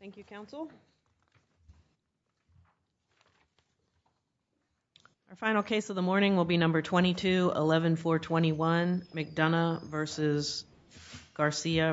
McDonough v. Garcia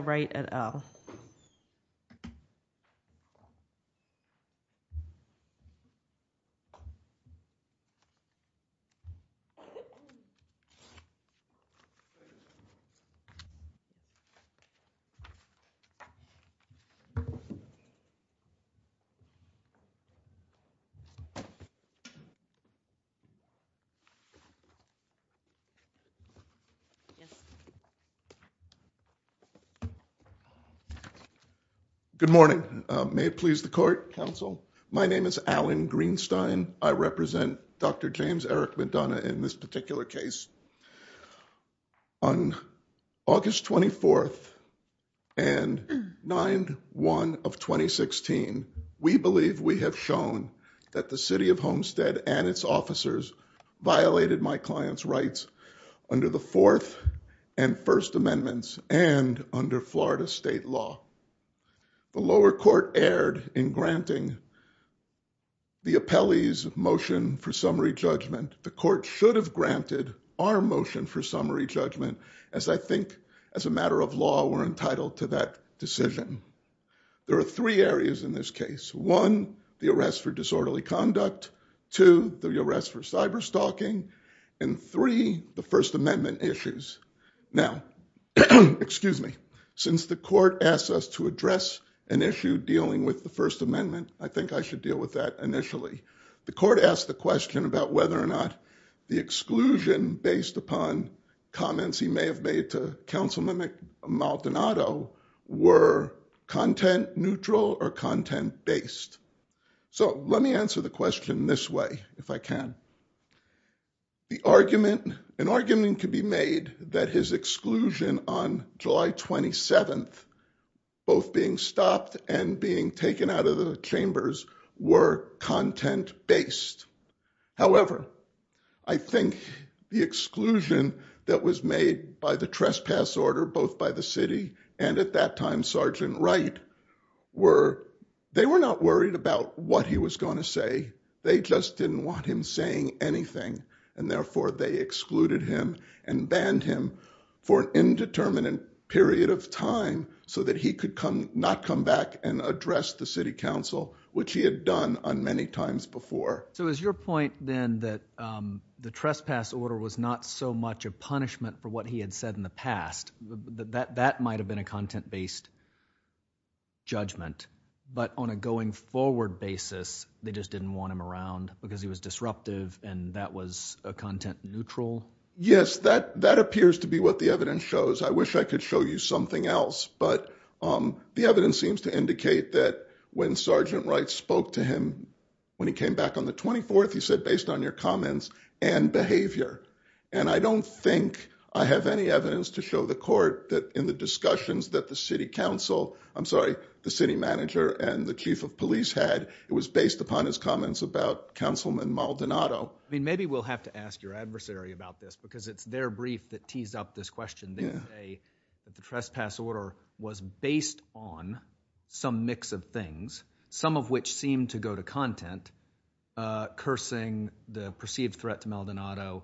Good morning. May it please the court, counsel. My name is Alan Greenstein. I represent Dr. McDonough v. Garcia. I'm here to report on the court's decision to grant the appellee's motion for summary judgment. In the case of the city of Homestead, which was brought before the court on July 1 of 2016, we believe we have shown that the city of Homestead and its officers violated my client's rights under the fourth and first amendments and under Florida state law. The lower court erred in granting the appellee's motion for summary judgment. The court should have granted our motion for summary judgment, as I think, as a matter of law, we're entitled to that decision. There are three areas in this case. One, the arrest for disorderly conduct. Two, the arrest for cyberstalking. And three, the First Amendment issues. Now, excuse me, since the court asked us to address an issue dealing with the First Amendment, I think I should deal with that initially. The court asked the question about whether or not the exclusion based upon comments he may have made to counsel Maldonado were content neutral or content based. So let me answer the question this way, if I can. The argument, an argument could be made that his exclusion on July 27th, both being stopped and being taken out of the chambers were content based. However, I think the exclusion that was made by the trespass order, both by the city and at that time, Sergeant Wright were, they were not worried about what he was going to say. They just didn't want him saying anything. And therefore, they excluded him and banned him for an indeterminate period of time so that he could not come back and address the city council, which he had done on many times before. So is your point then that the trespass order was not so much a punishment for what he had said in the past that that might have been a content based judgment, but on a going forward basis, they just didn't want him around because he was disruptive. And that was a content neutral. Yes, that that appears to be what the evidence shows. I wish I could show you something else. But the evidence seems to indicate that when Sergeant Wright spoke to him, when he came back on the 24th, he said, based on your comments and behavior. And I don't think I have any evidence to show the court that in the discussions that the city council, I'm sorry, the city manager and the chief of police had, it was based upon his comments about Councilman Maldonado. I mean, maybe we'll have to ask your adversary about this, because it's their brief that teased up this question. They say that the trespass order was based on some mix of things, some of which seem to go to content, cursing the perceived threat to Maldonado,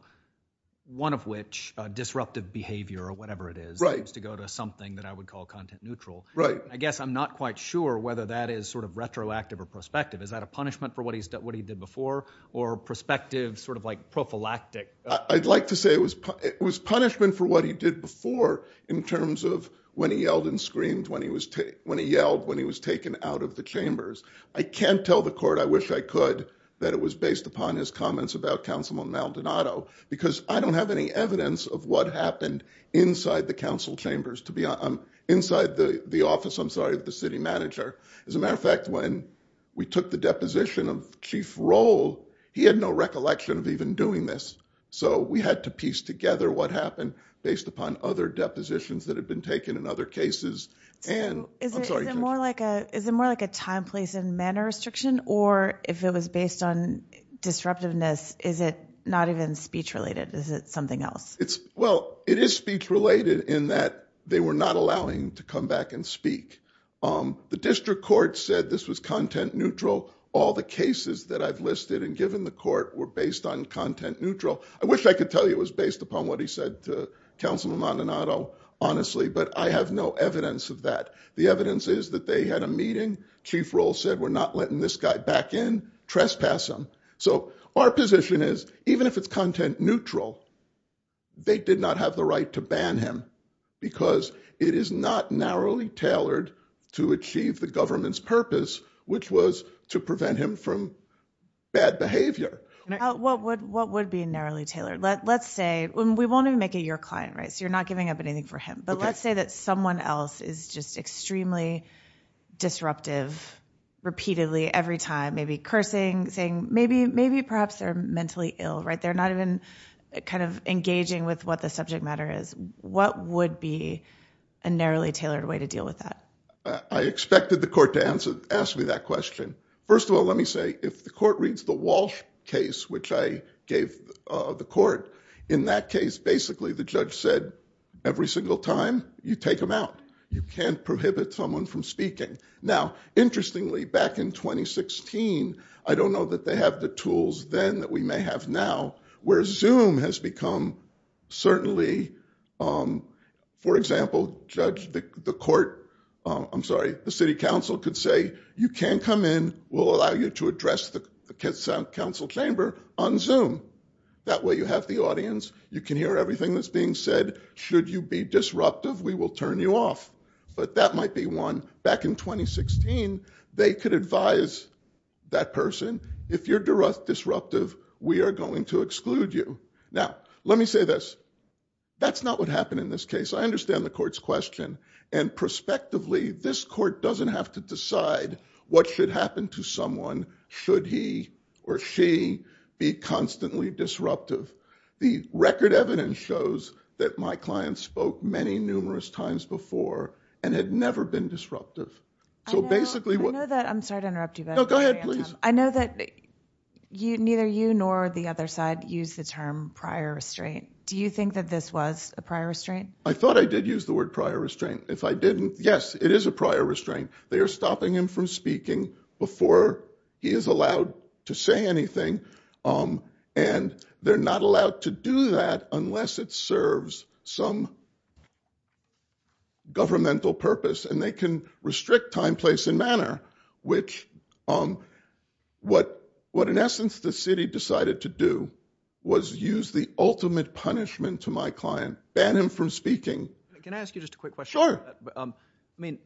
one of which disruptive behavior or whatever it is, seems to go to something that I would call content neutral. Right. I guess I'm not quite sure whether that is sort of retroactive or prospective. Is that a punishment for what he's done, what he did before or prospective sort of like prophylactic? I'd like to say it was it was punishment for what he did before in terms of when he yelled and screamed when he was when he yelled when he was taken out of the chambers. I can't tell the court. I wish I could that it was based upon his comments about Councilman Maldonado, because I don't have any evidence of what happened inside the council chambers to be inside the office. I'm sorry, the city manager, as a matter of fact, when we took the deposition of chief role, he had no recollection of even doing this. So we had to piece together what happened based upon other depositions that have been taken in other cases. And is it more like a is it more like a time, place and manner restriction? Or if it was based on disruptiveness, is it not even speech related? Is it something else? It's well, it is speech related in that they were not allowing to come back and speak. The district court said this was content neutral. All the cases that I've listed and given the court were based on content neutral. I wish I could tell you it was based upon what he said to Councilman Maldonado, honestly, but I have no evidence of that. The evidence is that they had a meeting. Chief role said we're not letting this guy back in trespass him. So our position is, even if it's content neutral, they did not have the right to ban him because it is not narrowly tailored to achieve the government's purpose, which was to prevent him from bad behavior. What would what would be narrowly tailored? Let's say we want to make it your client. Right. So you're not giving up anything for him. But let's say that someone else is just extremely disruptive repeatedly every time, maybe cursing, saying maybe maybe perhaps they're mentally ill. Right. They're not even kind of engaging with what the subject matter is. What would be a narrowly tailored way to deal with that? I expected the court to ask me that question. First of all, let me say, if the court reads the Walsh case, which I gave the court in that case, basically, the judge said every single time you take him out, you can't prohibit someone from speaking. Now, interestingly, back in 2016, I don't know that they have the tools then that we may have now, where Zoom has become certainly. For example, judge the court. I'm sorry. The city council could say you can't come in. We'll allow you to address the council chamber on Zoom. That way you have the audience. You can hear everything that's being said. Should you be disruptive? We will turn you off. But that might be one back in 2016. They could advise that person. If you're disruptive, we are going to exclude you. Now, let me say this. That's not what happened in this case. I understand the court's question. And prospectively, this court doesn't have to decide what should happen to someone should he or she be constantly disruptive. The record evidence shows that my client spoke many numerous times before and had never been disruptive. So basically what I know that I'm sorry to interrupt you, but I know that you neither you nor the other side use the term prior restraint. Do you think that this was a prior restraint? I thought I did use the word prior restraint. If I didn't, yes, it is a prior restraint. They are stopping him from speaking before he is allowed to say anything. And they're not allowed to do that unless it serves some governmental purpose. And they can restrict time, place, and manner. Which, what in essence the city decided to do was use the ultimate punishment to my client, ban him from speaking. Can I ask you just a quick question? Sure. I mean,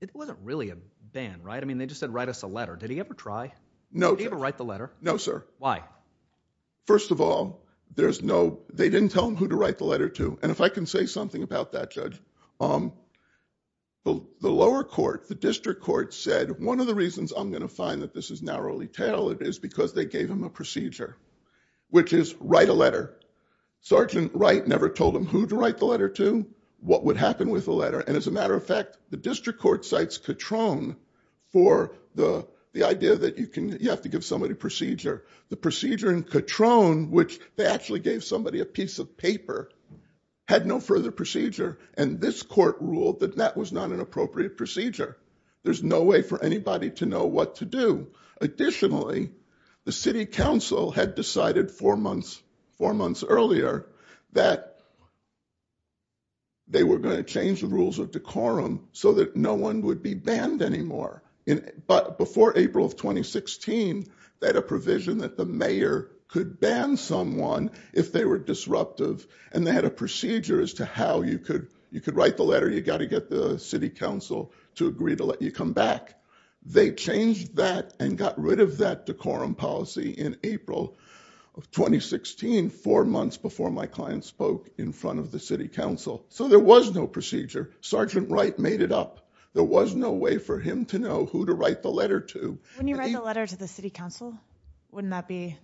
it wasn't really a ban, right? I mean, they just said write us a letter. Did he ever try? No. Did he ever write the letter? No, sir. Why? First of all, they didn't tell him who to write the letter to. And if I can say something about that, Judge, the lower court, the district court, said one of the reasons I'm going to find that this is narrowly tailored is because they gave him a procedure, which is write a letter. Sergeant Wright never told him who to write the letter to, what would happen with the letter. And as a matter of fact, the district court cites Katrone for the idea that you have to give somebody a procedure. The procedure in Katrone, which they actually gave somebody a piece of paper, had no further procedure. And this court ruled that that was not an appropriate procedure. There's no way for anybody to know what to do. Additionally, the city council had decided four months earlier that they were going to change the rules of decorum so that no one would be banned anymore. But before April of 2016, they had a provision that the mayor could ban someone if they were disruptive. And they had a procedure as to how you could write the letter. You've got to get the city council to agree to let you come back. They changed that and got rid of that decorum policy in April of 2016, four months before my client spoke in front of the city council. So there was no procedure. Sergeant Wright made it up. There was no way for him to know who to write the letter to. When you write a letter to the city council, wouldn't that be?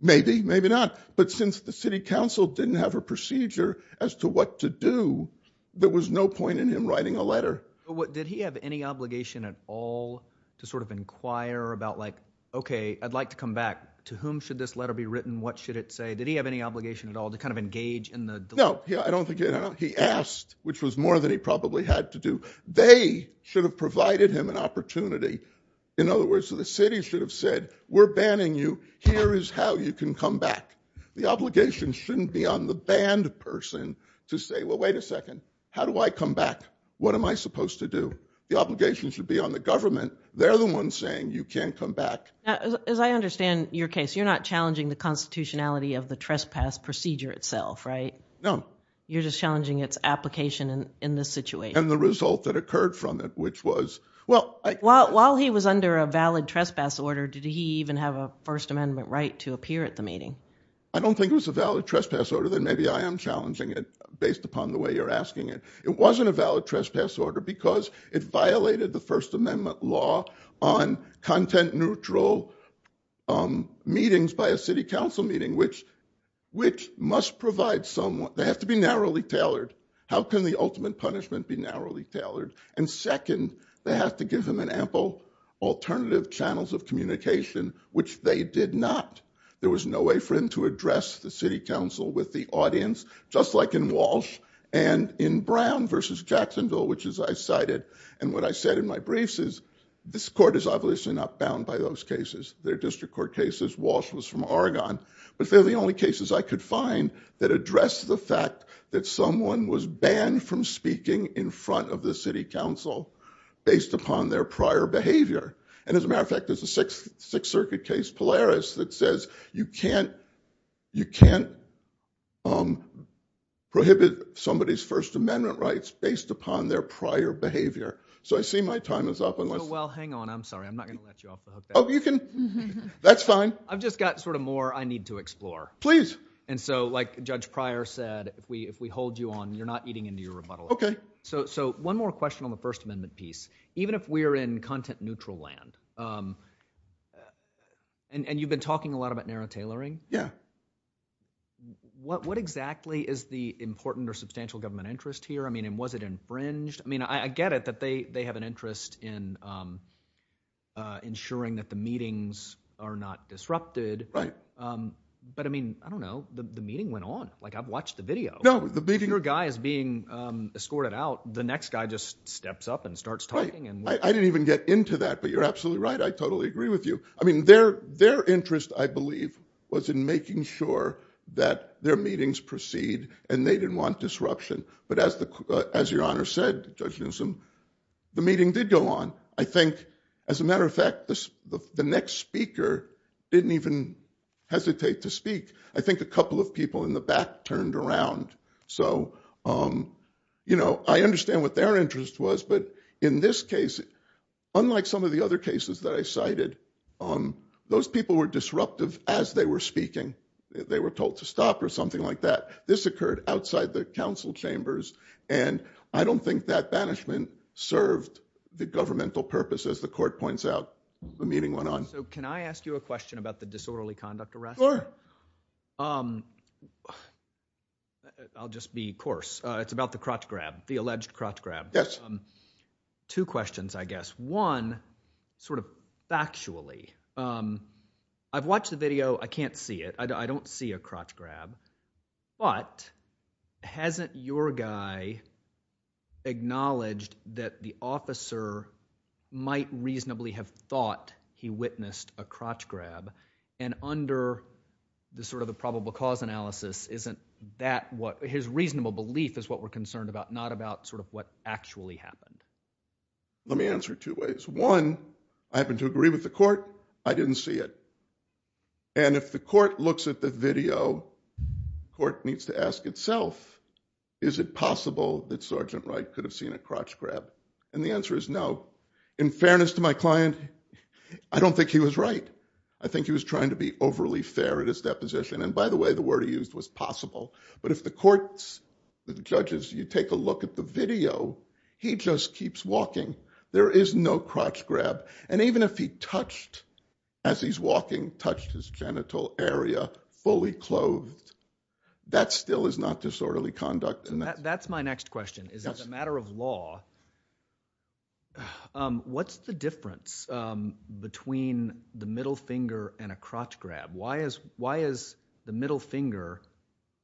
Maybe, maybe not. But since the city council didn't have a procedure as to what to do, there was no point in him writing a letter. Did he have any obligation at all to sort of inquire about, like, okay, I'd like to come back. To whom should this letter be written? What should it say? Did he have any obligation at all to kind of engage in the? No, I don't think he did. He asked, which was more than he probably had to do. They should have provided him an opportunity. In other words, the city should have said, we're banning you. Here is how you can come back. The obligation shouldn't be on the banned person to say, well, wait a second. How do I come back? What am I supposed to do? The obligation should be on the government. They're the ones saying you can't come back. As I understand your case, you're not challenging the constitutionality of the trespass procedure itself, right? No. You're just challenging its application in this situation. And the result that occurred from it, which was. While he was under a valid trespass order, did he even have a First Amendment right to appear at the meeting? I don't think it was a valid trespass order. Then maybe I am challenging it based upon the way you're asking it. It wasn't a valid trespass order because it violated the First Amendment law on content neutral meetings by a city council meeting, which must provide someone. They have to be narrowly tailored. How can the ultimate punishment be narrowly tailored? And second, they have to give him an ample alternative channels of communication, which they did not. There was no way for him to address the city council with the audience, just like in Walsh and in Brown versus Jacksonville, which is I cited. And what I said in my briefs is this court is obviously not bound by those cases. They're district court cases. Walsh was from Oregon. But they're the only cases I could find that address the fact that someone was banned from speaking in front of the city council based upon their prior behavior. And as a matter of fact, there's a Sixth Circuit case, Polaris, that says you can't prohibit somebody's First Amendment rights based upon their prior behavior. So I see my time is up. Well, hang on. I'm sorry. I'm not going to let you off the hook. That's fine. I've just got sort of more I need to explore. Please. And so like Judge Pryor said, if we hold you on, you're not eating into your rebuttal. Okay. So one more question on the First Amendment piece. Even if we're in content neutral land, and you've been talking a lot about narrow tailoring. Yeah. What exactly is the important or substantial government interest here? I mean, was it infringed? I mean, I get it that they have an interest in ensuring that the meetings are not disrupted. Right. But I mean, I don't know. The meeting went on. Like, I've watched the video. No. Your guy is being escorted out. The next guy just steps up and starts talking. Right. I didn't even get into that. But you're absolutely right. I totally agree with you. I mean, their interest, I believe, was in making sure that their meetings proceed and they didn't want disruption. But as Your Honor said, Judge Newsom, the meeting did go on. I think, as a matter of fact, the next speaker didn't even hesitate to speak. I think a couple of people in the back turned around. So, you know, I understand what their interest was. But in this case, unlike some of the other cases that I cited, those people were disruptive as they were speaking. They were told to stop or something like that. This occurred outside the council chambers. And I don't think that banishment served the governmental purpose, as the court points out. The meeting went on. So can I ask you a question about the disorderly conduct arrest? Sure. I'll just be coarse. It's about the crotch grab, the alleged crotch grab. Yes. Two questions, I guess. One, sort of factually, I've watched the video. I can't see it. I don't see a crotch grab. But hasn't your guy acknowledged that the officer might reasonably have thought he witnessed a crotch grab? And under the sort of the probable cause analysis, isn't that what his reasonable belief is what we're concerned about, not about sort of what actually happened? Let me answer it two ways. One, I happen to agree with the court. I didn't see it. And if the court looks at the video, the court needs to ask itself, is it possible that Sergeant Wright could have seen a crotch grab? And the answer is no. In fairness to my client, I don't think he was right. I think he was trying to be overly fair at his deposition. And by the way, the word he used was possible. But if the courts, the judges, you take a look at the video, he just keeps walking. There is no crotch grab. And even if he touched, as he's walking, touched his genital area fully clothed, that still is not disorderly conduct. So that's my next question, is as a matter of law, what's the difference between the middle finger and a crotch grab? Why is the middle finger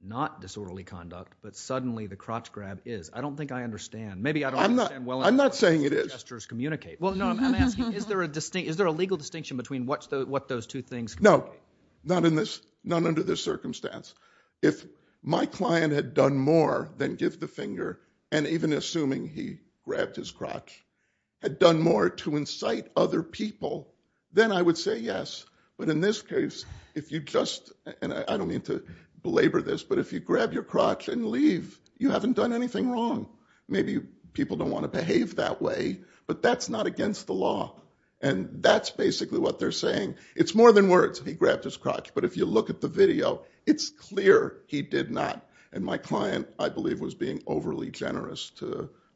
not disorderly conduct, but suddenly the crotch grab is? I don't think I understand. Maybe I don't understand well enough. I'm not saying it is. Gestures communicate. Well, no, I'm asking, is there a legal distinction between what those two things communicate? No. Not under this circumstance. If my client had done more than give the finger, and even assuming he grabbed his crotch, had done more to incite other people, then I would say yes. But in this case, if you just, and I don't mean to belabor this, but if you grab your crotch and leave, you haven't done anything wrong. Maybe people don't want to behave that way, but that's not against the law. And that's basically what they're saying. It's more than words, he grabbed his crotch. But if you look at the video, it's clear he did not. And my client, I believe, was being overly generous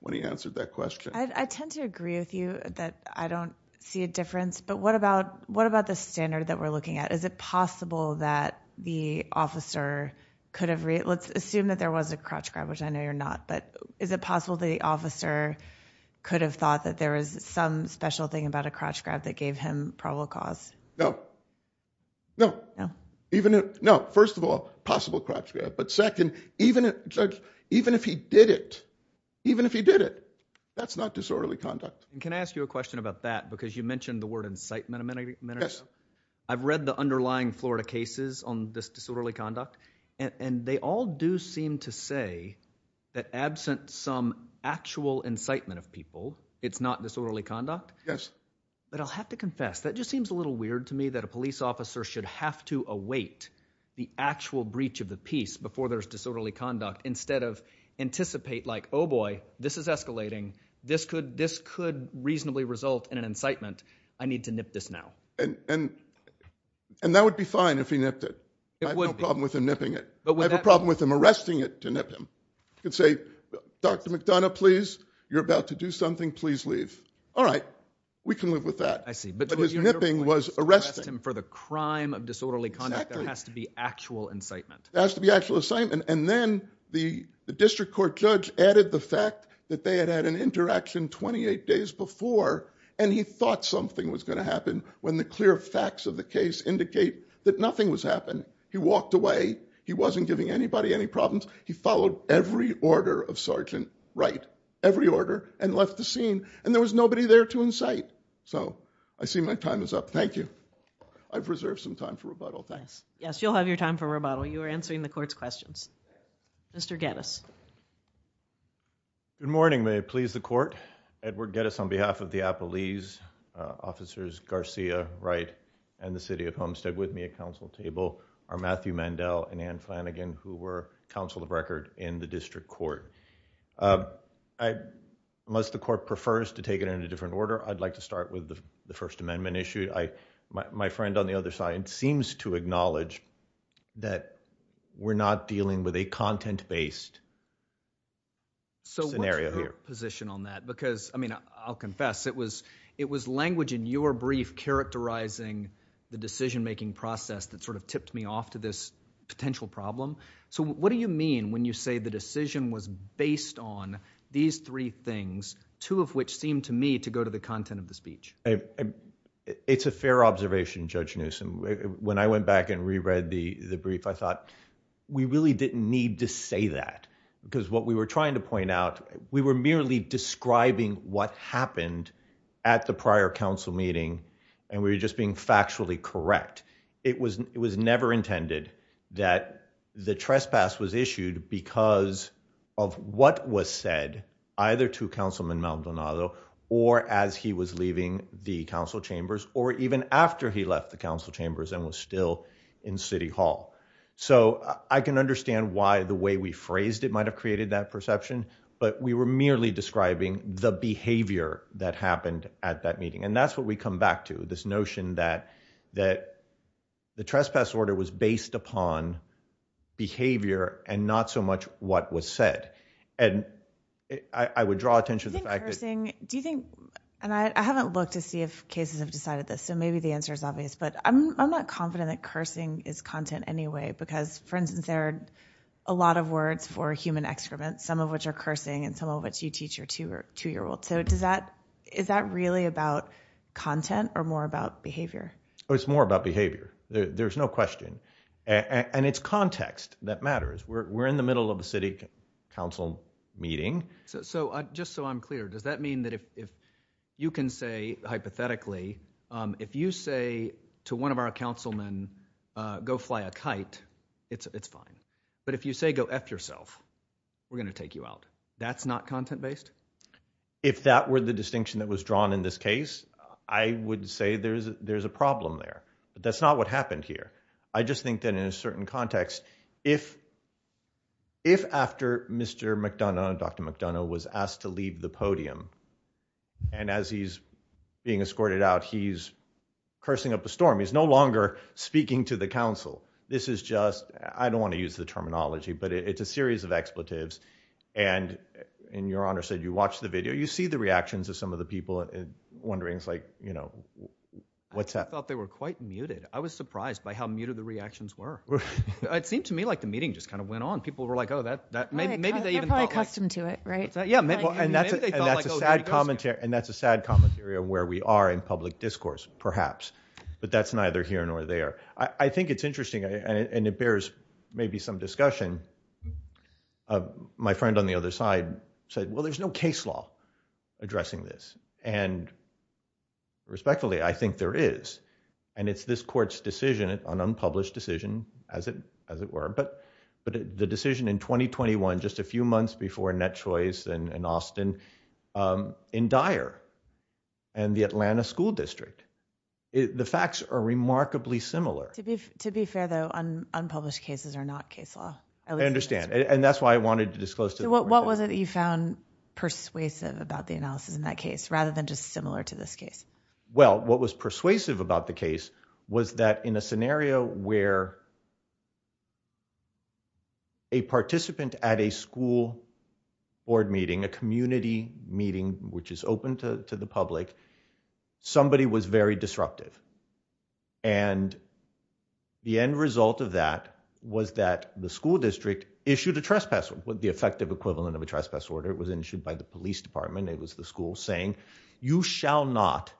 when he answered that question. I tend to agree with you that I don't see a difference. But what about the standard that we're looking at? Is it possible that the officer could have, let's assume that there was a crotch grab, which I know you're not, but is it possible the officer could have thought that there was some special thing about a crotch grab that gave him probable cause? No. No. No. First of all, possible crotch grab. But second, even if he did it, even if he did it, that's not disorderly conduct. Can I ask you a question about that? Because you mentioned the word incitement a minute ago. I've read the underlying Florida cases on this disorderly conduct, and they all do seem to say that absent some actual incitement of people, it's not disorderly conduct. Yes. But I'll have to confess. That just seems a little weird to me that a police officer should have to await the actual breach of the peace before there's disorderly conduct instead of anticipate like, oh boy, this is escalating. This could reasonably result in an incitement. I need to nip this now. And that would be fine if he nipped it. It would be. I have no problem with him nipping it. I have a problem with him arresting it to nip him. You could say, Dr. McDonough, please, you're about to do something. Please leave. All right. We can live with that. I see. But his nipping was arresting him for the crime of disorderly conduct. There has to be actual incitement. There has to be actual incitement. And then the district court judge added the fact that they had had an interaction 28 days before, and he thought something was going to happen when the clear facts of the case indicate that nothing was happening. He walked away. He wasn't giving anybody any problems. He followed every order of Sergeant Wright, every order, and left the scene. And there was nobody there to incite. So, I see my time is up. Thank you. I've reserved some time for rebuttal. Thanks. You'll have your time for rebuttal. You are answering the court's questions. Mr. Geddes. Good morning. May it please the court. Edward Geddes on behalf of the Appalese, Officers Garcia, Wright, and the City of Homestead with me at counsel table are Matthew Mandel and Ann Flanagan who were counsel of record in the district court. Unless the court prefers to take it in a different order, I'd like to start with the First Amendment issue. My friend on the other side seems to acknowledge that we're not dealing with a content-based scenario here. So, what's your position on that? Because, I mean, I'll confess, it was language in your brief characterizing the decision-making process that sort of tipped me off to this potential problem. So, what do you mean when you say the decision was based on these three things, two of which seem to me to go to the content of the speech? It's a fair observation, Judge Newsom. When I went back and reread the brief, I thought, we really didn't need to say that because what we were trying to point out, we were merely describing what happened at the prior counsel meeting and we were just being factually correct. In fact, it was never intended that the trespass was issued because of what was said either to Councilman Maldonado or as he was leaving the council chambers or even after he left the council chambers and was still in City Hall. So, I can understand why the way we phrased it might have created that perception, but we were merely describing the behavior that happened at that meeting. And that's what we come back to, this notion that the trespass order was based upon behavior and not so much what was said. And I would draw attention to the fact that... Do you think, and I haven't looked to see if cases have decided this, so maybe the answer is obvious, but I'm not confident that cursing is content anyway because, for instance, there are a lot of words for human excrement, some of which are cursing and some of which you teach your two-year-old. So, is that really about content or more about behavior? It's more about behavior. There's no question. And it's context that matters. We're in the middle of a city council meeting. So, just so I'm clear, does that mean that if you can say hypothetically, if you say to one of our councilmen, go fly a kite, it's fine. But if you say go F yourself, we're going to take you out. That's not content-based? If that were the distinction that was drawn in this case, I would say there's a problem there. But that's not what happened here. I just think that in a certain context, if after Mr. McDonough, Dr. McDonough was asked to leave the podium, and as he's being escorted out, he's cursing up a storm. He's no longer speaking to the council. This is just, I don't want to use the terminology, but it's a series of expletives. And Your Honor said you watched the video. You see the reactions of some of the people wondering, like, you know, what's that? I thought they were quite muted. I was surprised by how muted the reactions were. It seemed to me like the meeting just kind of went on. People were like, oh, that, maybe they even thought. They're probably accustomed to it, right? Yeah, and that's a sad commentary of where we are in public discourse, perhaps. But that's neither here nor there. I think it's interesting, and it bears maybe some discussion. My friend on the other side said, well, there's no case law addressing this. And respectfully, I think there is. And it's this court's decision, an unpublished decision, as it were. But the decision in 2021, just a few months before Net Choice and Austin, in Dyer, and the Atlanta school district, the facts are remarkably similar. To be fair, though, unpublished cases are not case law. I understand. And that's why I wanted to disclose to the court that. So what was it that you found persuasive about the analysis in that case, rather than just similar to this case? Well, what was persuasive about the case was that in a scenario where a participant at a school board meeting, a community meeting, which is open to the public, somebody was very disruptive. And the end result of that was that the school district issued a trespass order, the effective equivalent of a trespass order. It was issued by the police department. It was the school saying, you shall not,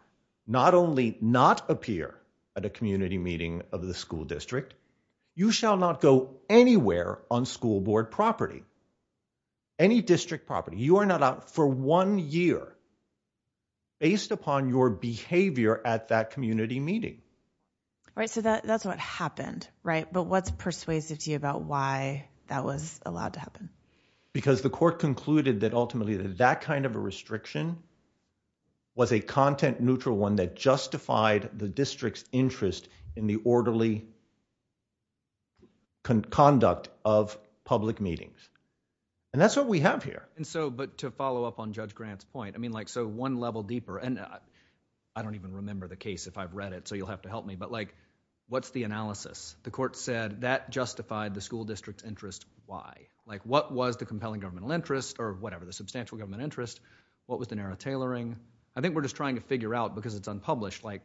not only not appear at a community meeting of the school district, you shall not go anywhere on school board property, any district property. You are not out for one year. Based upon your behavior at that community meeting. Right. So that's what happened. Right. But what's persuasive to you about why that was allowed to happen? Because the court concluded that ultimately that kind of a restriction was a content neutral one that justified the district's interest in the orderly conduct of public meetings. And that's what we have here. And so, but to follow up on Judge Grant's point, I mean like so one level deeper, and I don't even remember the case if I've read it, so you'll have to help me, but like what's the analysis? The court said that justified the school district's interest. Why? Like what was the compelling governmental interest or whatever, the substantial government interest? What was the narrow tailoring? I think we're just trying to figure out because it's unpublished, like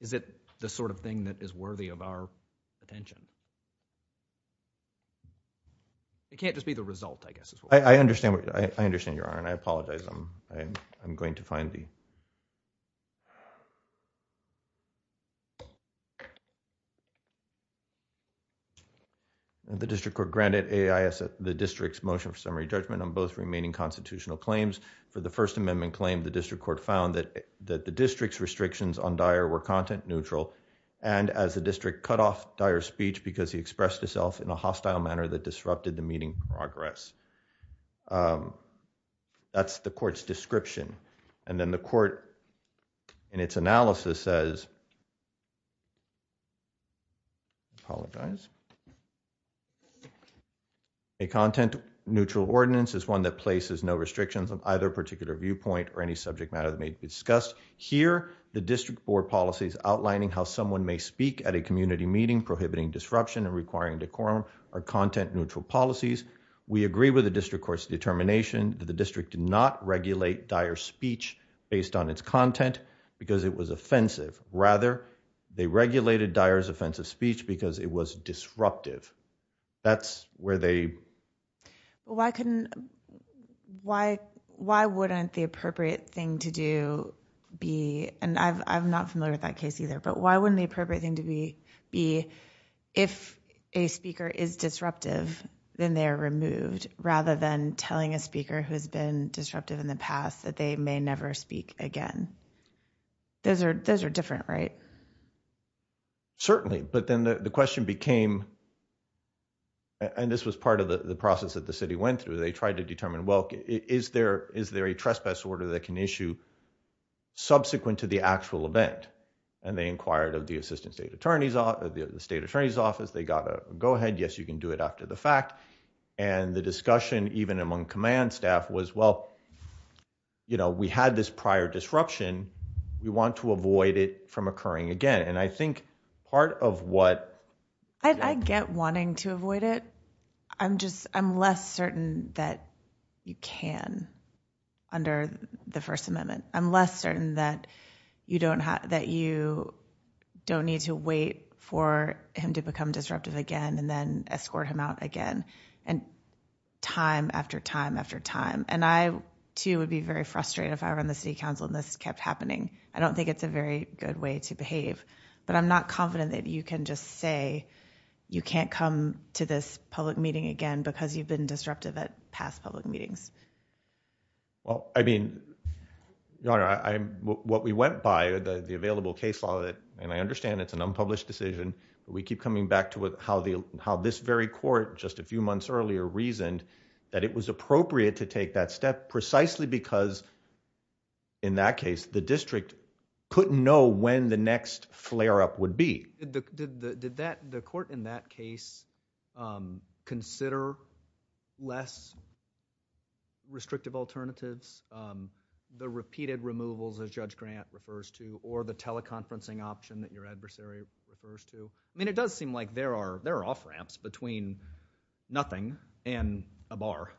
is it the sort of thing that is worthy of our attention? It can't just be the result, I guess. I understand. I understand, Your Honor, and I apologize. I'm going to find the. The district court granted AIS the district's motion for summary judgment on both remaining constitutional claims. For the First Amendment claim, the district court found that the district's restrictions on Dyer were content neutral, and as the district cut off Dyer's speech because he expressed himself in a hostile manner that disrupted the meeting progress. That's the court's description. And then the court in its analysis says, apologize, A content neutral ordinance is one that places no restrictions on either particular viewpoint or any subject matter that may be discussed here. The district board policies outlining how someone may speak at a community meeting, prohibiting disruption and requiring decorum are content neutral policies. We agree with the district court's determination that the district did not regulate Dyer speech based on its content because it was offensive. Rather, they regulated Dyer's offensive speech because it was disruptive. That's where they. Well, I couldn't. Why, why wouldn't the appropriate thing to do be? And I've, I've not familiar with that case either, but why wouldn't the appropriate thing to be, be, if a speaker is disruptive, then they're removed rather than telling a speaker who has been disruptive in the past that they may never speak again. Those are, those are different, right? Certainly, but then the question became, and this was part of the process that the city went through. They tried to determine, well, is there, is there a trespass order that can issue subsequent to the actual event? And they inquired of the assistant state attorneys, the state attorney's office, they got to go ahead. Yes, you can do it after the fact. And the discussion, even among command staff was, well, You know, we had this prior disruption. We want to avoid it from occurring again. And I think part of what. I get wanting to avoid it. I'm just, I'm less certain that you can. Under the first amendment, I'm less certain that you don't have, that you don't need to wait for him to become disruptive again and then escort him out again. Time after time after time. And I too would be very frustrated if I were on the city council and this kept happening. I don't think it's a very good way to behave, but I'm not confident that you can just say you can't come to this public meeting again because you've been disruptive at past public meetings. Well, I mean, I'm what we went by the, the available case law that, and I understand it's an unpublished decision, but we keep coming back to what, how the, how this very court, just a few months earlier reasoned that it was appropriate to take that step precisely because in that case, the district couldn't know when the next flare up would be. Did the, did the, did that, the court in that case, um, consider less restrictive alternatives, um, the repeated removals as judge grant refers to, or the teleconferencing option that your adversary refers to? I mean, it does seem like there are, there are off ramps between nothing and a bar.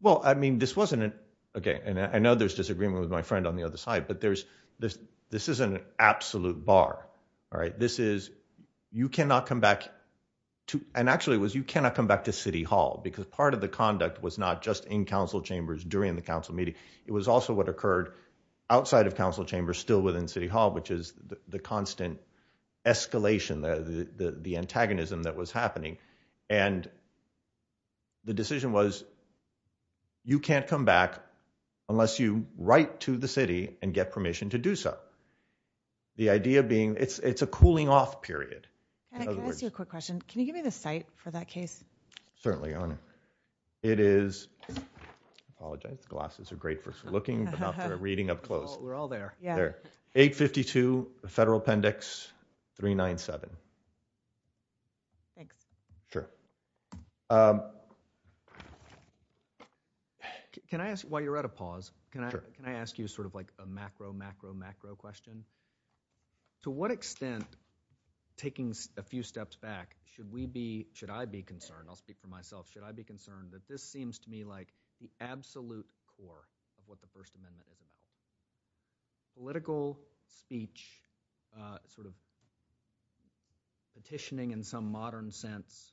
Well, I mean, this wasn't an, okay. And I know there's disagreement with my friend on the other side, but there's, this, this is an absolute bar, right? This is, you cannot come back to, and actually it was, you cannot come back to city hall because part of the conduct was not just in council chambers during the council meeting. It was also what occurred outside of council chambers, still within city hall, which is the constant escalation, the, the, the antagonism that was happening. And the decision was, you can't come back unless you write to the city and get permission to do so. The idea being it's, it's a cooling off period. Can I ask you a quick question? Can you give me the site for that case? Certainly, Your Honor. It is, I apologize. The glasses are great for looking, but not for a reading up close. We're all there. Yeah. 852 Federal Appendix 397. Thanks. Sure. Can I ask, while you're at a pause, can I, can I ask you sort of like a macro macro macro question? To what extent taking a few steps back, should we be, should I be concerned? I'll speak for myself. Should I be concerned that this seems to me like the absolute core of what the first amendment is about? Political speech, sort of petitioning in some modern sense,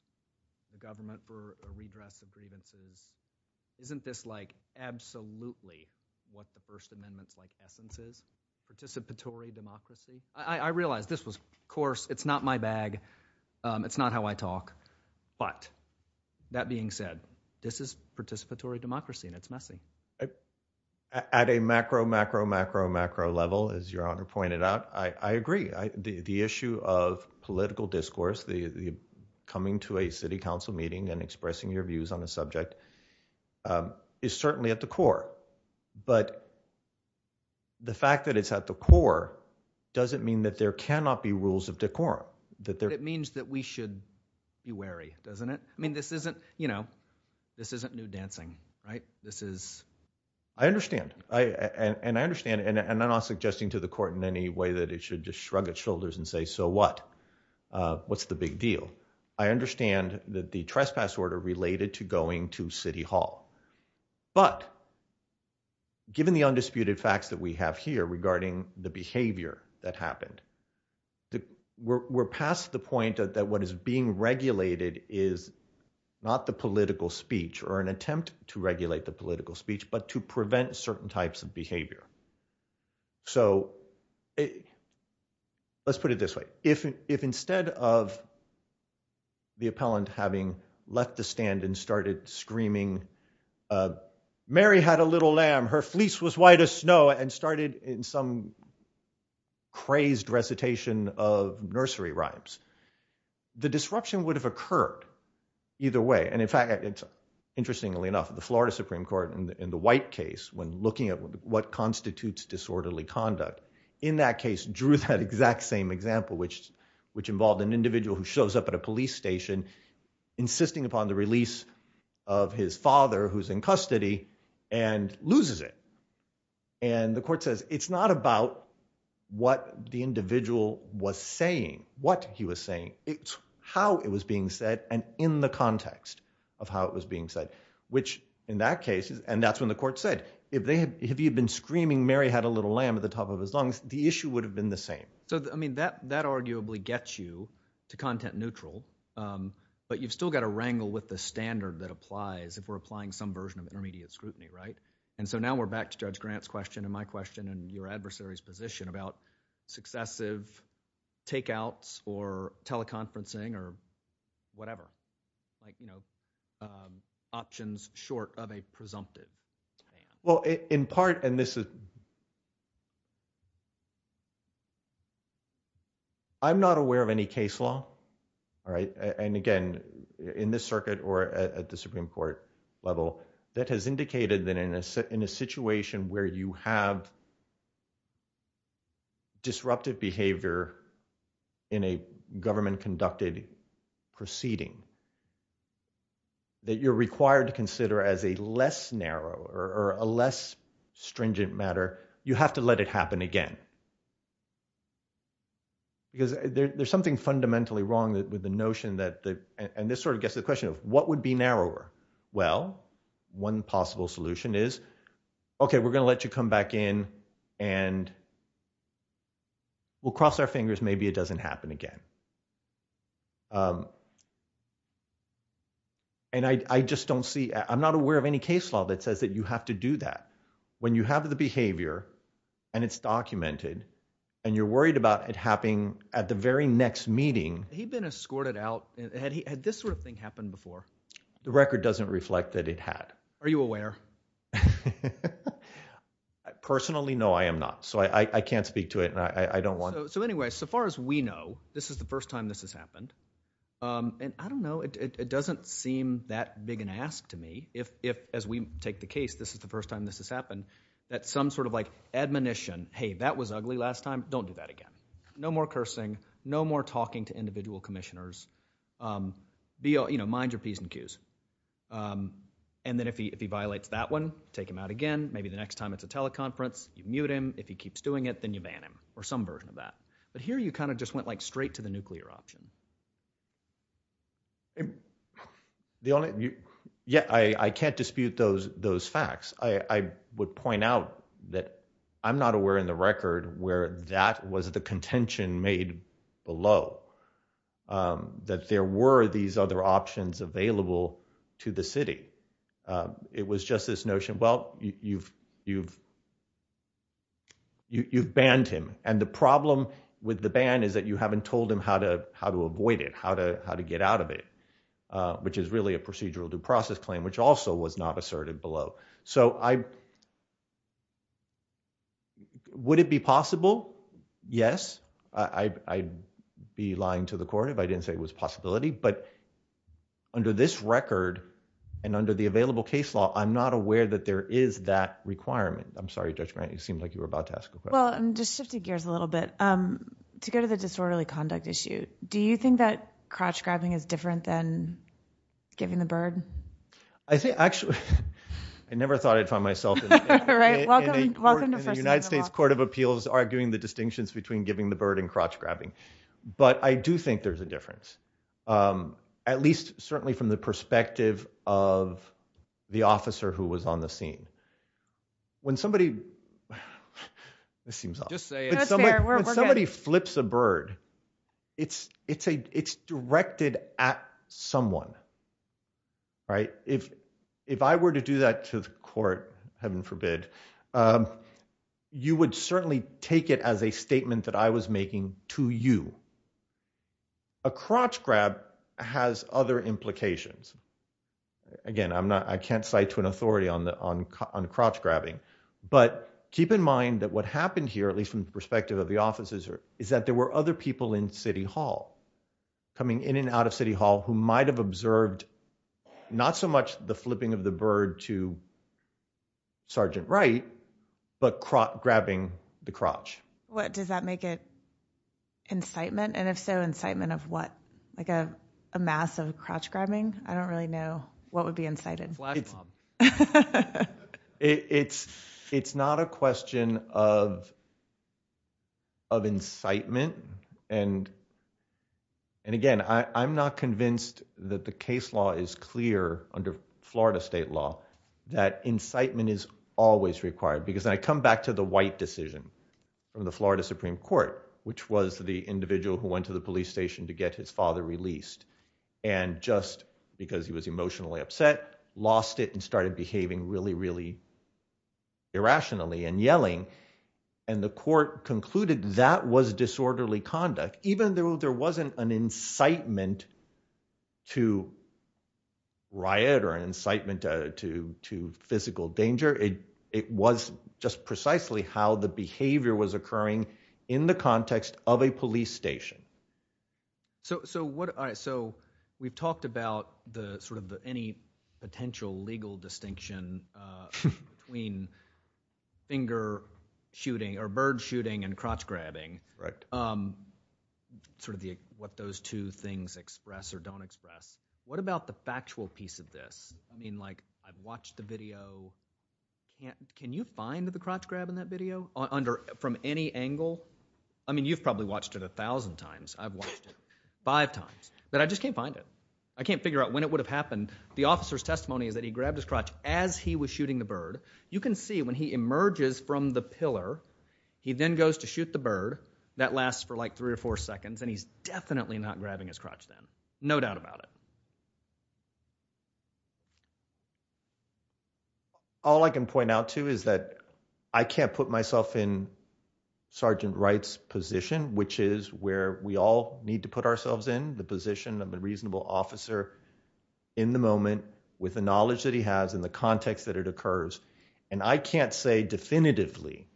the government for a redress of grievances. Isn't this like absolutely what the first amendment's like essence is participatory democracy. I realized this was course, it's not my bag. It's not how I talk. But that being said, this is participatory democracy and it's messy. At a macro macro macro macro level, as Your Honor pointed out, I agree. The issue of political discourse, the coming to a city council meeting and expressing your views on the subject is certainly at the core, but the fact that it's at the core doesn't mean that there cannot be rules of it means that we should be wary, doesn't it? I mean, this isn't, you know, this isn't new dancing, right? This is, I understand. I, and I understand and I'm not suggesting to the court in any way that it should just shrug its shoulders and say, so what, uh, what's the big deal. I understand that the trespass order related to going to city hall, but given the undisputed facts that we have here regarding the behavior that happened, the, we're, we're past the point that what is being regulated is not the political speech or an attempt to regulate the political speech, but to prevent certain types of behavior. So let's put it this way. If, if instead of the appellant having left the stand and started screaming, uh, Mary had a little lamb, her fleece was white as snow and started in some crazed recitation of nursery rhymes. The disruption would have occurred either way. And in fact, it's interestingly enough, the Florida Supreme court in the white case when looking at what constitutes disorderly conduct in that case drew that exact same example, which, which involved an individual who shows up at a police station, insisting upon the release of his father, who's in custody and loses it. And the court says it's not about what the individual was saying, what he was saying, it's how it was being said and in the context of how it was being said, which in that case, and that's when the court said, if they had, if you'd been screaming, Mary had a little lamb at the top of his lungs, the issue would have been the same. So, I mean, that, that arguably gets you to content neutral. Um, but you've still got to wrangle with the standard that applies. If we're applying some version of intermediate scrutiny. Right. And so now we're back to judge Grant's question and my question and your adversary's position about successive takeouts or teleconferencing or whatever, like, you know, um, options short of a presumptive. Well, in part, and this is, I'm not aware of any case law. All right. And again, in this circuit or at the Supreme court level that has indicated that in a, in a situation where you have disruptive behavior in a government conducted proceeding that you're required to consider as a less narrow or a less stringent matter. You have to let it happen again because there's something fundamentally wrong with the notion that the, and this sort of gets to the question of what would be narrower? Well, one possible solution is, okay, we're going to let you come back in and we'll cross our fingers. Maybe it doesn't happen again. Um, and I just don't see, I'm not aware of any case law that says that you have to do that when you have the behavior and it's documented and you're worried about it happening at the Supreme court level. So I don't know if you've ever had this sort of thing happen before. The record doesn't reflect that it had. Are you aware? I personally, no, I am not. So I can't speak to it. I don't want. So anyway, so far as we know, this is the first time this has happened. Um, and I don't know, it doesn't seem that big an ask to me. If, if as we take the case, this is the first time this has happened, that some sort of like admonition, Hey, that was ugly last time. Don't do that again. No more cursing, no more talking to individual commissioners. Um, be, you know, mind your Ps and Qs. Um, and then if he, if he violates that one, take him out again, maybe the next time it's a teleconference, you mute him. If he keeps doing it, then you ban him or some version of that. But here you kind of just went like straight to the nuclear option. The only, yeah, I can't dispute those, those facts. I would point out that I'm not aware in the record where that was the contention made below, um, that there were these other options available to the city. Um, it was just this notion. Well, you've, you've, you've, you've banned him. And the problem with the ban is that you haven't told him how to, how to avoid it, how to, how to get out of it, uh, which is really a procedural due process claim, which also was not asserted below. So I, would it be possible? Yes. I, I be lying to the court. If I didn't say it was possibility, but under this record and under the available case law, I'm not aware that there is that requirement. I'm sorry, Judge Grant, it seemed like you were about to ask a question. Well, I'm just shifting gears a little bit, um, to go to the disorderly conduct issue. Do you think that crotch grabbing is different than giving the bird? I think actually, I never thought I'd find myself in the United States court of appeals, arguing the distinctions between giving the bird and crotch grabbing. But I do think there's a difference, um, at least certainly from the perspective of the officer who was on the scene when somebody, this seems odd. When somebody flips a bird, it's, it's a, it's directed at someone, right? If, if I were to do that to the court, heaven forbid, um, you would certainly take it as a statement that I was making to you. A crotch grab has other implications. Again, I'm not, I can't cite to an authority on the, on, on crotch grabbing, but keep in mind that what happened here, at least from the perspective of the officers is that there were other people in city hall coming in and out of city hall who might've observed, not so much the flipping of the bird to Sergeant Wright, but grabbing the crotch. What does that make it incitement? And if so incitement of what, like a massive crotch grabbing, I don't really know what would be incited. It's, it's not a question of, of incitement. And, and again, I, I'm not convinced that the case law is clear under Florida state law, that incitement is always required because I come back to the white decision from the Florida Supreme Court, which was the individual who went to the police station to get his father released. And just because he was emotionally upset, lost it and started behaving really, really irrationally and yelling. And the court concluded that was disorderly conduct, even though there wasn't an incitement to riot or an incitement to, to physical danger. It was just precisely how the behavior was occurring in the context of a police station. So, so what I, so we've talked about the sort of the any potential legal distinction between finger shooting or bird shooting and crotch grabbing, right? Sort of the, what those two things express or don't express. What about the factual piece of this? I mean, like I've watched the video. Can you find the crotch grab in that video on under from any angle? I mean, you've probably watched it a thousand times. I've watched it five times, but I just can't find it. I can't figure out when it would have happened. The officer's testimony is that he grabbed his crotch as he was shooting the bird. And as you can see, when he emerges from the pillar, he then goes to shoot the bird that lasts for like three or four seconds. And he's definitely not grabbing his crotch. Then no doubt about it. All I can point out too, is that I can't put myself in Sergeant Wright's position, which is where we all need to put ourselves in the position of a reasonable officer in the moment with the knowledge that he has in the context that it occurs. And I can't say definitively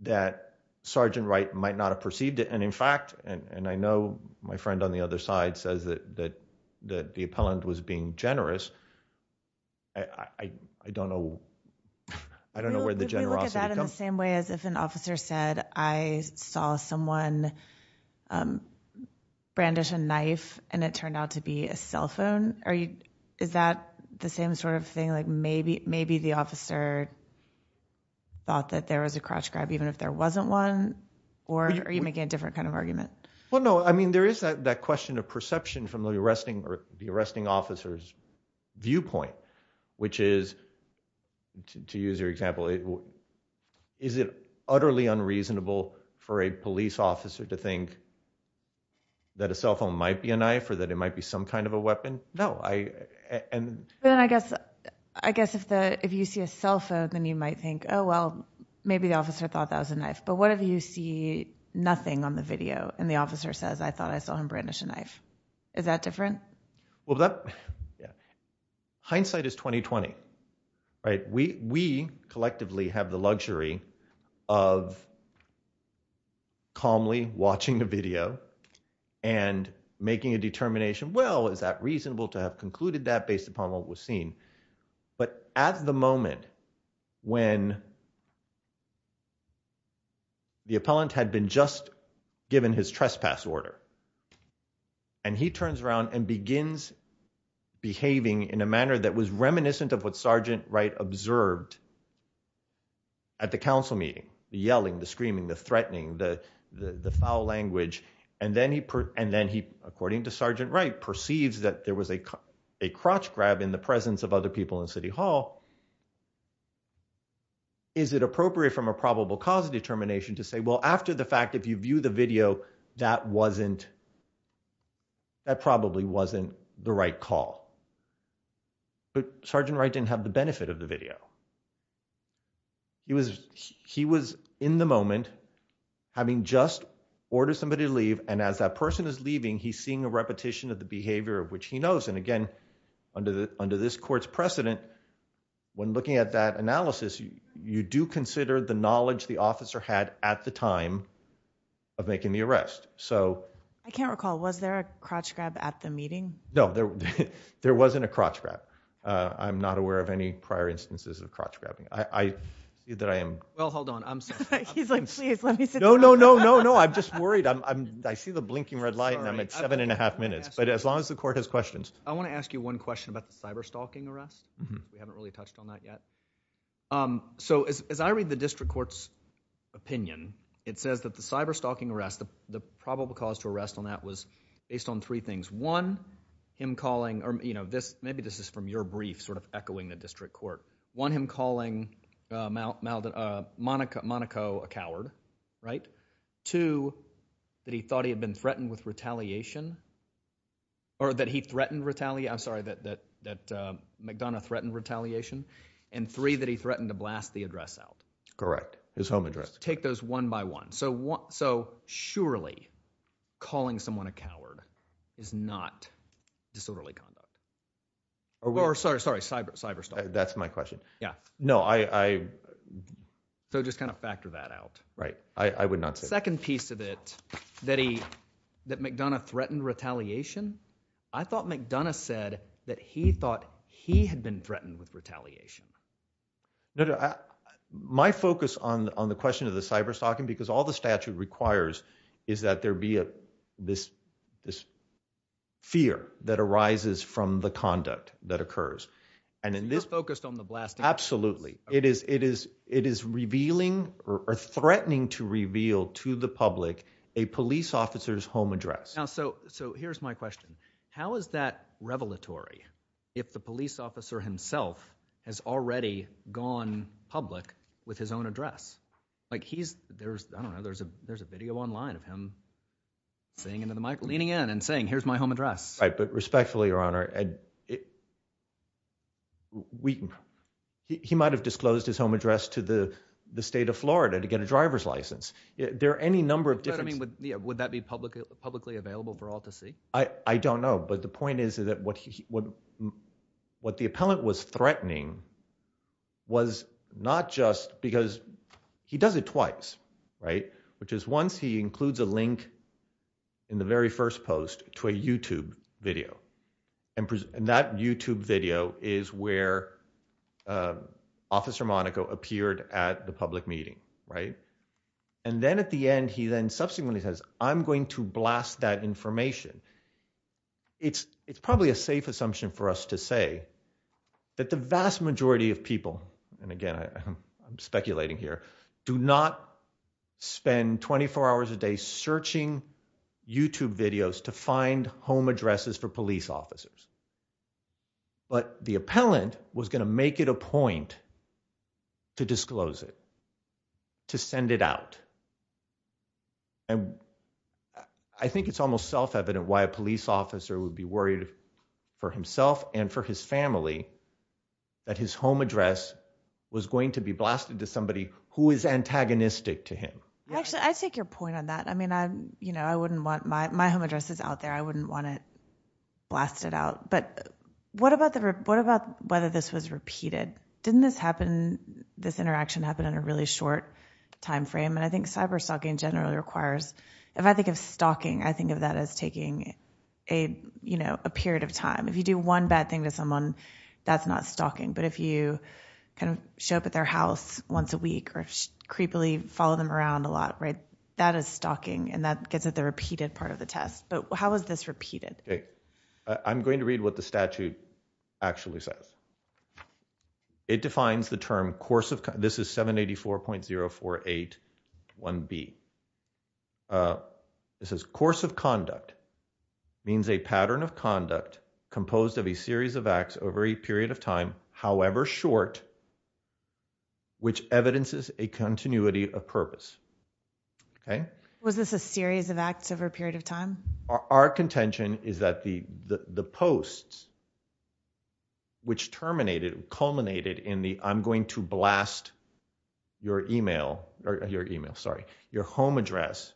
that Sergeant Wright might not have perceived it. And in fact, and I know my friend on the other side says that, that, that the appellant was being generous. I don't know. I don't know where the generosity comes from. If you look at that in the same way as if an officer said, I saw someone brandish a knife and it turned out to be a cell phone. Are you, is that the same sort of thing? Like maybe, maybe the officer thought that there was a crotch grab, even if there wasn't one or are you making a different kind of argument? Well, no, I mean, there is that, that question of perception from the arresting or the arresting officers viewpoint, which is to use your example, is it utterly unreasonable for a police officer to think that a cell phone might be a knife or that it might be some kind of a weapon? No, I, and then I guess, I guess if the, if you see a cell phone, then you might think, Oh, well, maybe the officer thought that was a knife, but what if you see nothing on the video and the officer says, I thought I saw him brandish a knife. Is that different? Well, that hindsight is 2020, right? We, we collectively have the luxury of calmly watching a video and making a determination. Well, is that reasonable to have concluded that based upon what was seen? But at the moment when the appellant had been just given his trespass order and he turns around and begins behaving in a manner that was reminiscent of what Sergeant Wright observed at the council meeting, the yelling, the screaming, the threatening, the, the, the foul language. And then he, and then he according to Sergeant Wright perceives that there was a, a crotch grab in the presence of other people in city hall. After the fact, if you view the video, that wasn't, that probably wasn't the right call, but Sergeant Wright didn't have the benefit of the video. He was, he was in the moment having just ordered somebody to leave. And as that person is leaving, he's seeing a repetition of the behavior of which he knows. And again, under the, under this court's precedent, when looking at that analysis, you do consider the knowledge the officer had at the time of making the arrest. So I can't recall, was there a crotch grab at the meeting? No, there wasn't a crotch grab. Uh, I'm not aware of any prior instances of crotch grabbing. I did that. I am. Well, hold on. I'm sorry. He's like, please let me sit. No, no, no, no, no. I'm just worried. I'm, I'm, I see the blinking red light and I'm at seven and a half minutes, but as long as the court has questions, I want to ask you one question about the cyber stalking arrest. We haven't really touched on that yet. Um, so as, as I read the district court's opinion, it says that the cyber stalking arrest, the probable cause to arrest on that was based on three things. One, him calling, or, you know, this, maybe this is from your brief sort of echoing the district court. One, him calling, uh, Mal, Malden, uh, Monica Monaco, a coward, right? Two, that he thought he had been threatened with retaliation or that he threatened retaliate. I'm sorry that, that, that, uh, McDonough threatened retaliation and three that he threatened to blast the address out. Correct. His home address. Take those one by one. So what, so surely calling someone a coward is not disorderly conduct or, or sorry, sorry, cyber cyber stuff. That's my question. Yeah, no, I, I, so just kind of factor that out. Right. I would not say second piece of it that he, that McDonough threatened retaliation. I thought McDonough said that he thought he had been threatened with retaliation. My focus on, on the question of the cyber stalking, because all the statute requires is that there be a, this, this fear that arises from the conduct that occurs. And in this focused on the blast. Absolutely. It is, it is, it is revealing or threatening to reveal to the public, a police officer's home address. So, so here's my question. How is that revelatory if the police officer himself has already gone public with his own address? Like he's, there's, I don't know, there's a, there's a video online of him saying into the mic leaning in and saying, here's my home address. Right. But respectfully, your honor, he might've disclosed his home address to the state of Florida to get a driver's license. There are any number of different, I mean, would that be publicly publicly available for all to see? I don't know. But the point is that what he would, what the appellant was threatening was not just because he does it twice, right. Which is once he includes a link in the very first post to a YouTube video and that YouTube video is where officer Monaco appeared at the public meeting. Right. And then at the end, he then subsequently says, I'm going to blast that information. It's, it's probably a safe assumption for us to say that the vast majority of people, and again, I'm speculating here do not spend 24 hours a day searching YouTube videos to find home addresses for police officers. But the appellant was going to make it a point to disclose it, to send it out. And I think it's almost self-evident why a police officer would be worried for himself and for his family, that his home address was going to be blasted to somebody who is antagonistic to him. Actually, I take your point on that. I mean, I, you know, I wouldn't want my, my home address is out there. I wouldn't want to blast it out. But what about the, what about whether this was repeated? Didn't this happen? Didn't this interaction happen in a really short timeframe? And I think cyber stalking generally requires, if I think of stalking, I think of that as taking a, you know, a period of time. If you do one bad thing to someone that's not stalking, but if you kind of show up at their house once a week or creepily follow them around a lot, right, that is stalking and that gets at the repeated part of the test. But how has this repeated? I'm going to read what the statute actually says. It defines the term course of, this is 784.0481B. It says course of conduct means a pattern of conduct composed of a series of acts over a period of time, however short, which evidences a continuity of purpose. Okay. Was this a series of acts over a period of time? Our contention is that the, the, the posts, which terminated, culminated in the, I'm going to blast your email or your email, sorry. Your home address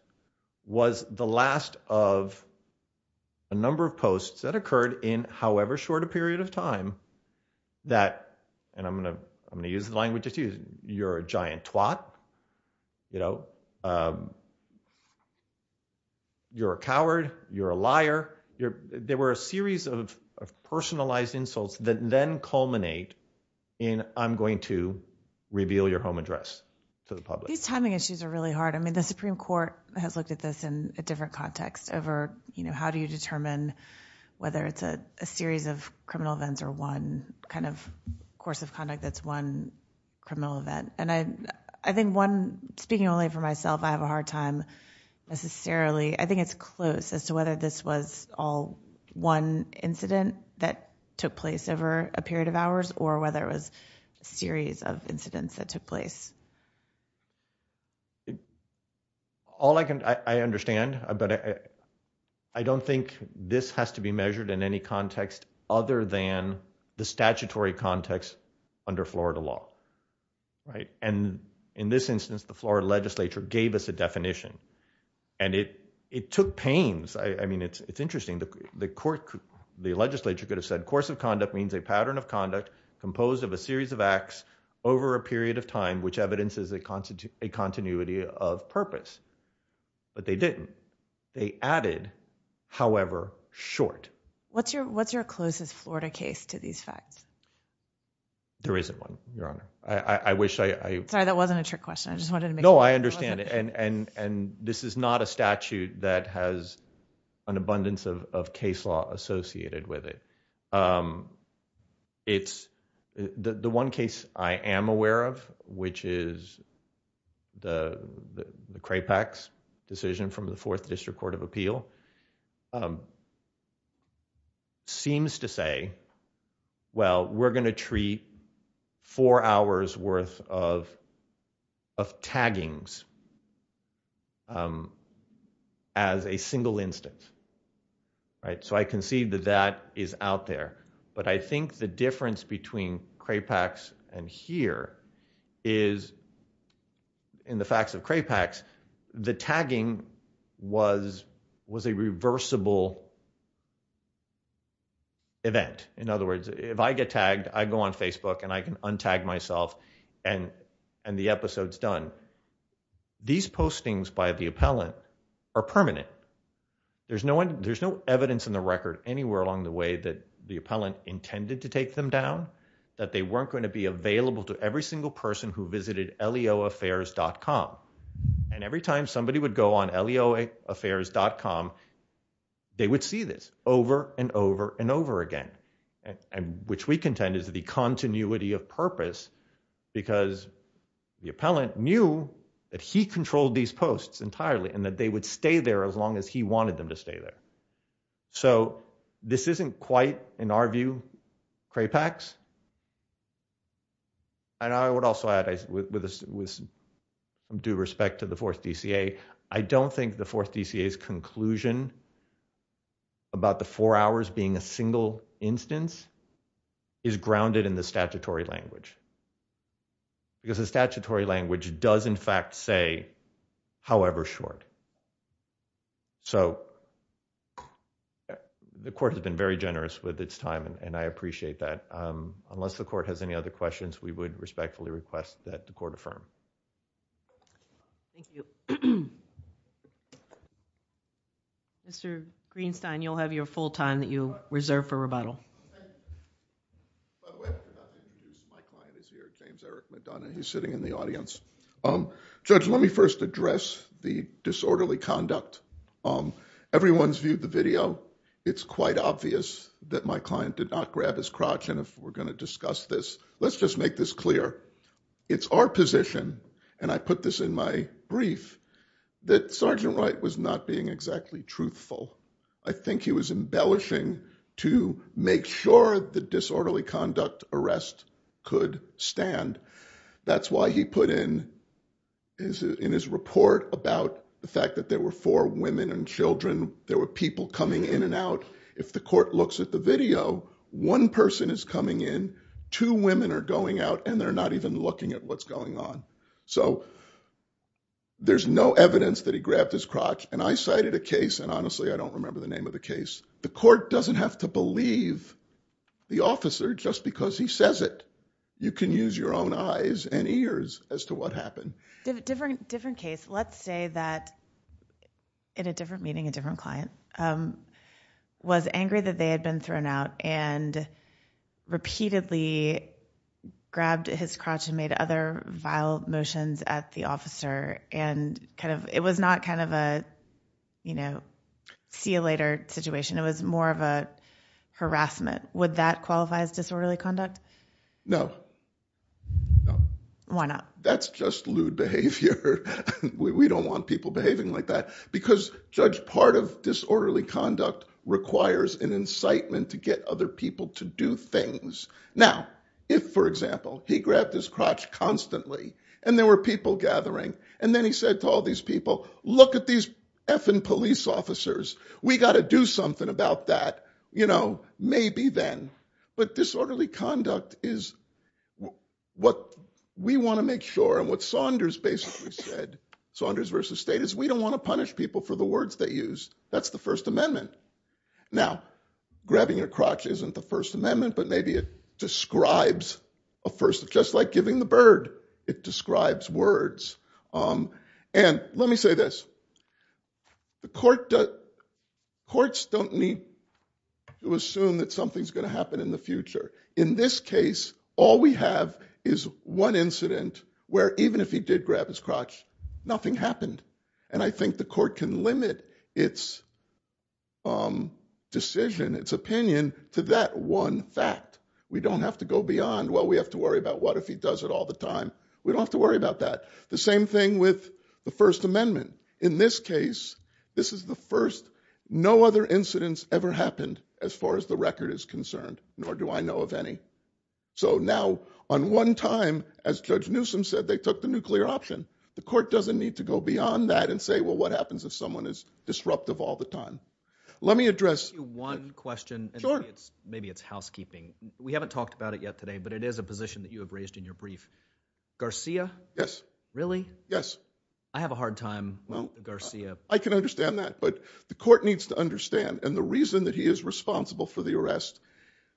was the last of a number of posts that occurred in however short a period of time that, and I'm going to, I'm going to use the language. You're a giant twat, you know, you're a coward, you're a liar. There were a series of personalized insults that then culminate in I'm going to reveal your home address to the public. These timing issues are really hard. I mean, the Supreme Court has looked at this in a different context over, you know, how do you determine whether it's a series of criminal events or one kind of course of conduct that's one criminal event. And I, I think one, speaking only for myself, I have a hard time necessarily. I think it's close as to whether this was all one incident that took place over a period of hours or whether it was a series of incidents that took place. All I can, I understand, but I, I don't think this has to be measured in any context other than the statutory context under Florida law. Right. And in this instance, the Florida legislature gave us a definition and it, it took pains. I, I mean, it's, it's interesting that the court, the legislature could have said course of conduct means a pattern of conduct composed of a series of acts over a period of time, which evidence is a constant, a continuity of purpose, but they didn't. They added, however short. What's your, what's your closest Florida case to these facts? There isn't one, Your Honor. I wish I, I, that wasn't a trick question. I just wanted to make sure. No, I understand. And, and, and this is not a statute that has an abundance of, of case law associated with it. It's the, the one case I am aware of, which is the, the Crapex decision from the fourth district court of appeal seems to say, well, we're going to treat four hours worth of, of taggings as a single instance. Right. So I can see that that is out there, but I think the difference between Crapex and here is in the facts of Crapex, the tagging was, was a reversible event. In other words, if I get tagged, I go on Facebook and I can untag myself and, and the episodes done these postings by the appellant are permanent. There's no one, there's no evidence in the record anywhere along the way that the appellant intended to take them down, that they weren't going to be available to every single person who visited leo affairs.com. And every time somebody would go on leo affairs.com, they would see this over and over and over again. And which we contend is the continuity of purpose because the appellant knew that he controlled these posts entirely and that they would stay there as long as he wanted them to stay there. So this isn't quite in our view, Crapex. And I would also add with due respect to the fourth DCA, I don't think the fourth DCA is conclusion about the four hours being a single instance is grounded in the statutory language because the statutory language does in fact say, however short. So the court has been very generous with its time and I appreciate that. Unless the court has any other questions, we would respectfully request that the court affirm. Thank you. Mr. Greenstein, you'll have your full time that you reserve for rebuttal. He's sitting in the audience. Judge, let me first address the disorderly conduct. Everyone's viewed the video. It's quite obvious that my client did not grab his crotch. And if we're going to discuss this, let's just make this clear. It's our position. And I put this in my brief that Sergeant Wright was not being exactly truthful. I think he was embellishing to make sure the disorderly conduct arrest could stand. That's why he put in is in his report about the fact that there were four women and children. There were people coming in and out. If the court looks at the video, one person is coming in, two women are going out and they're not even looking at what's going on. So there's no evidence that he grabbed his crotch. And I cited a case. And honestly, I don't remember the name of the case. The court doesn't have to believe the officer just because he says it. You can use your own eyes and ears as to what happened. Different, different case. Let's say that in a different meeting, a different client was angry that they had been thrown out and repeatedly grabbed his crotch and made other vile motions at the officer. And kind of, it was not kind of a, you know, see you later situation. It was more of a harassment. Would that qualify as disorderly conduct? No, no. Why not? That's just lewd behavior. We don't want people behaving like that because judge part of disorderly conduct requires an incitement to get other people to do things. Now, if for example, he grabbed his crotch constantly and there were people gathering and then he said to all these people, look at these effing police officers. We got to do something about that. You know, maybe then, but disorderly conduct is what we want to make sure. And what Saunders basically said, Saunders versus state is we don't want to punish people for the words they use. That's the first amendment. Now grabbing your crotch isn't the first amendment, but maybe it describes a first, just like giving the bird. It describes words. And let me say this. The court, courts don't need to assume that something's going to happen in the future. In this case, all we have is one incident where even if he did grab his crotch, nothing happened. And I think the court can limit its decision, its opinion to that one fact. We don't have to go beyond, well, we have to worry about what if he does it all the time, we don't have to worry about that. The same thing with the first amendment. In this case, this is the first, no other incidents ever happened as far as the record is concerned, nor do I know of any. So now on one time, as judge Newsom said, they took the nuclear option. The court doesn't need to go beyond that and say, well, what happens if someone is disruptive all the time? Let me address. One question. Sure. Maybe it's housekeeping. We haven't talked about it yet today, but it is a position that you have raised in your brief Garcia. Yes, really? Yes. I have a hard time with Garcia. I can understand that, but the court needs to understand. And the reason that he is responsible for the arrest,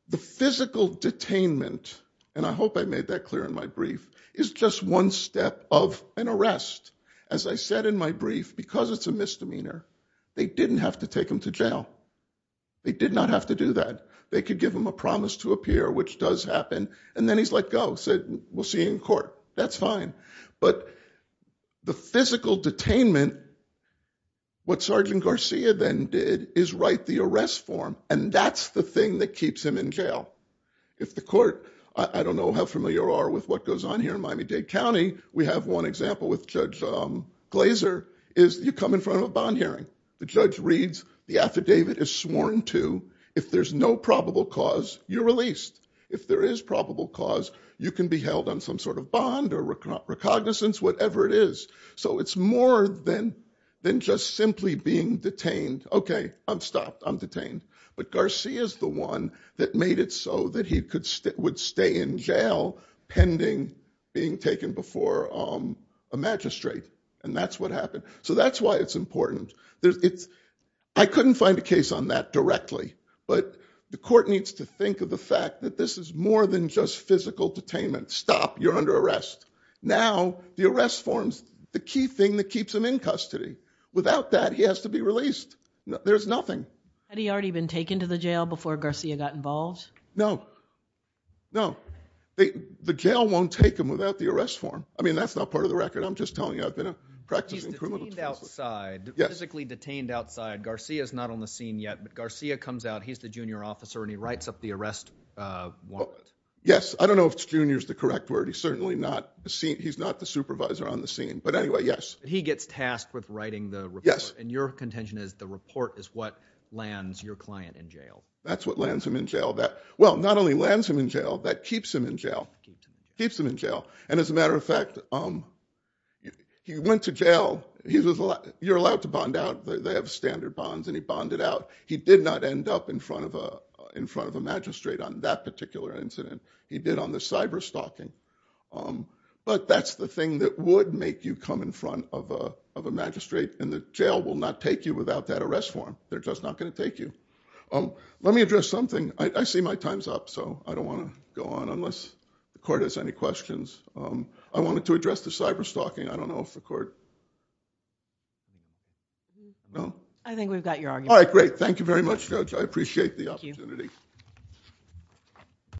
the physical detainment. And I hope I made that clear in my brief is just one step of an arrest. As I said in my brief, because it's a misdemeanor, they didn't have to take him to jail. They did not have to do that. They could give him a promise to appear, which does happen. And then he's like, go said, we'll see in court. That's fine. But the physical detainment, what Sergeant Garcia then did is write the arrest form. And that's the thing that keeps him in jail. If the court, I don't know how familiar are with what goes on here in Miami Dade County. We have one example with Judge Glaser is you come in front of a bond hearing. The judge reads the affidavit is sworn to if there's no probable cause you're released. If there is probable cause, you can be held on some sort of bond or recognizance, whatever it is. So it's more than than just simply being detained. OK, I'm stopped. I'm detained. But Garcia is the one that made it so that he could would stay in jail pending being taken before a magistrate. And that's what happened. So that's why it's important. It's I couldn't find a case on that directly. But the court needs to think of the fact that this is more than just physical detainment. Stop. You're under arrest. Now, the arrest forms the key thing that keeps him in custody. Without that, he has to be released. There's nothing. Had he already been taken to the jail before Garcia got involved? No. No, the jail won't take him without the arrest form. I mean, that's not part of the record. I'm just telling you, I've been practicing outside. Physically detained outside. Garcia is not on the scene yet. But Garcia comes out. He's the junior officer and he writes up the arrest. Well, yes. I don't know if junior is the correct word. He's certainly not. He's not the supervisor on the scene. But anyway, yes, he gets tasked with writing the. Yes. And your contention is the report is what lands your client in jail. That's what lands him in jail. Well, not only lands him in jail, that keeps him in jail. Keeps him in jail. And as a matter of fact, he went to jail. You're allowed to bond out. They have standard bonds and he bonded out. He did not end up in front of a in front of a magistrate on that particular incident. He did on the cyber stalking. But that's the thing that would make you come in front of a magistrate. And the jail will not take you without that arrest form. They're just not going to take you. Let me address something. I see my time's up, so I don't want to go on unless the court has any questions. I wanted to address the cyber stalking. I don't know if the court. I think we've got your. All right. Great. Thank you very much. I appreciate the opportunity.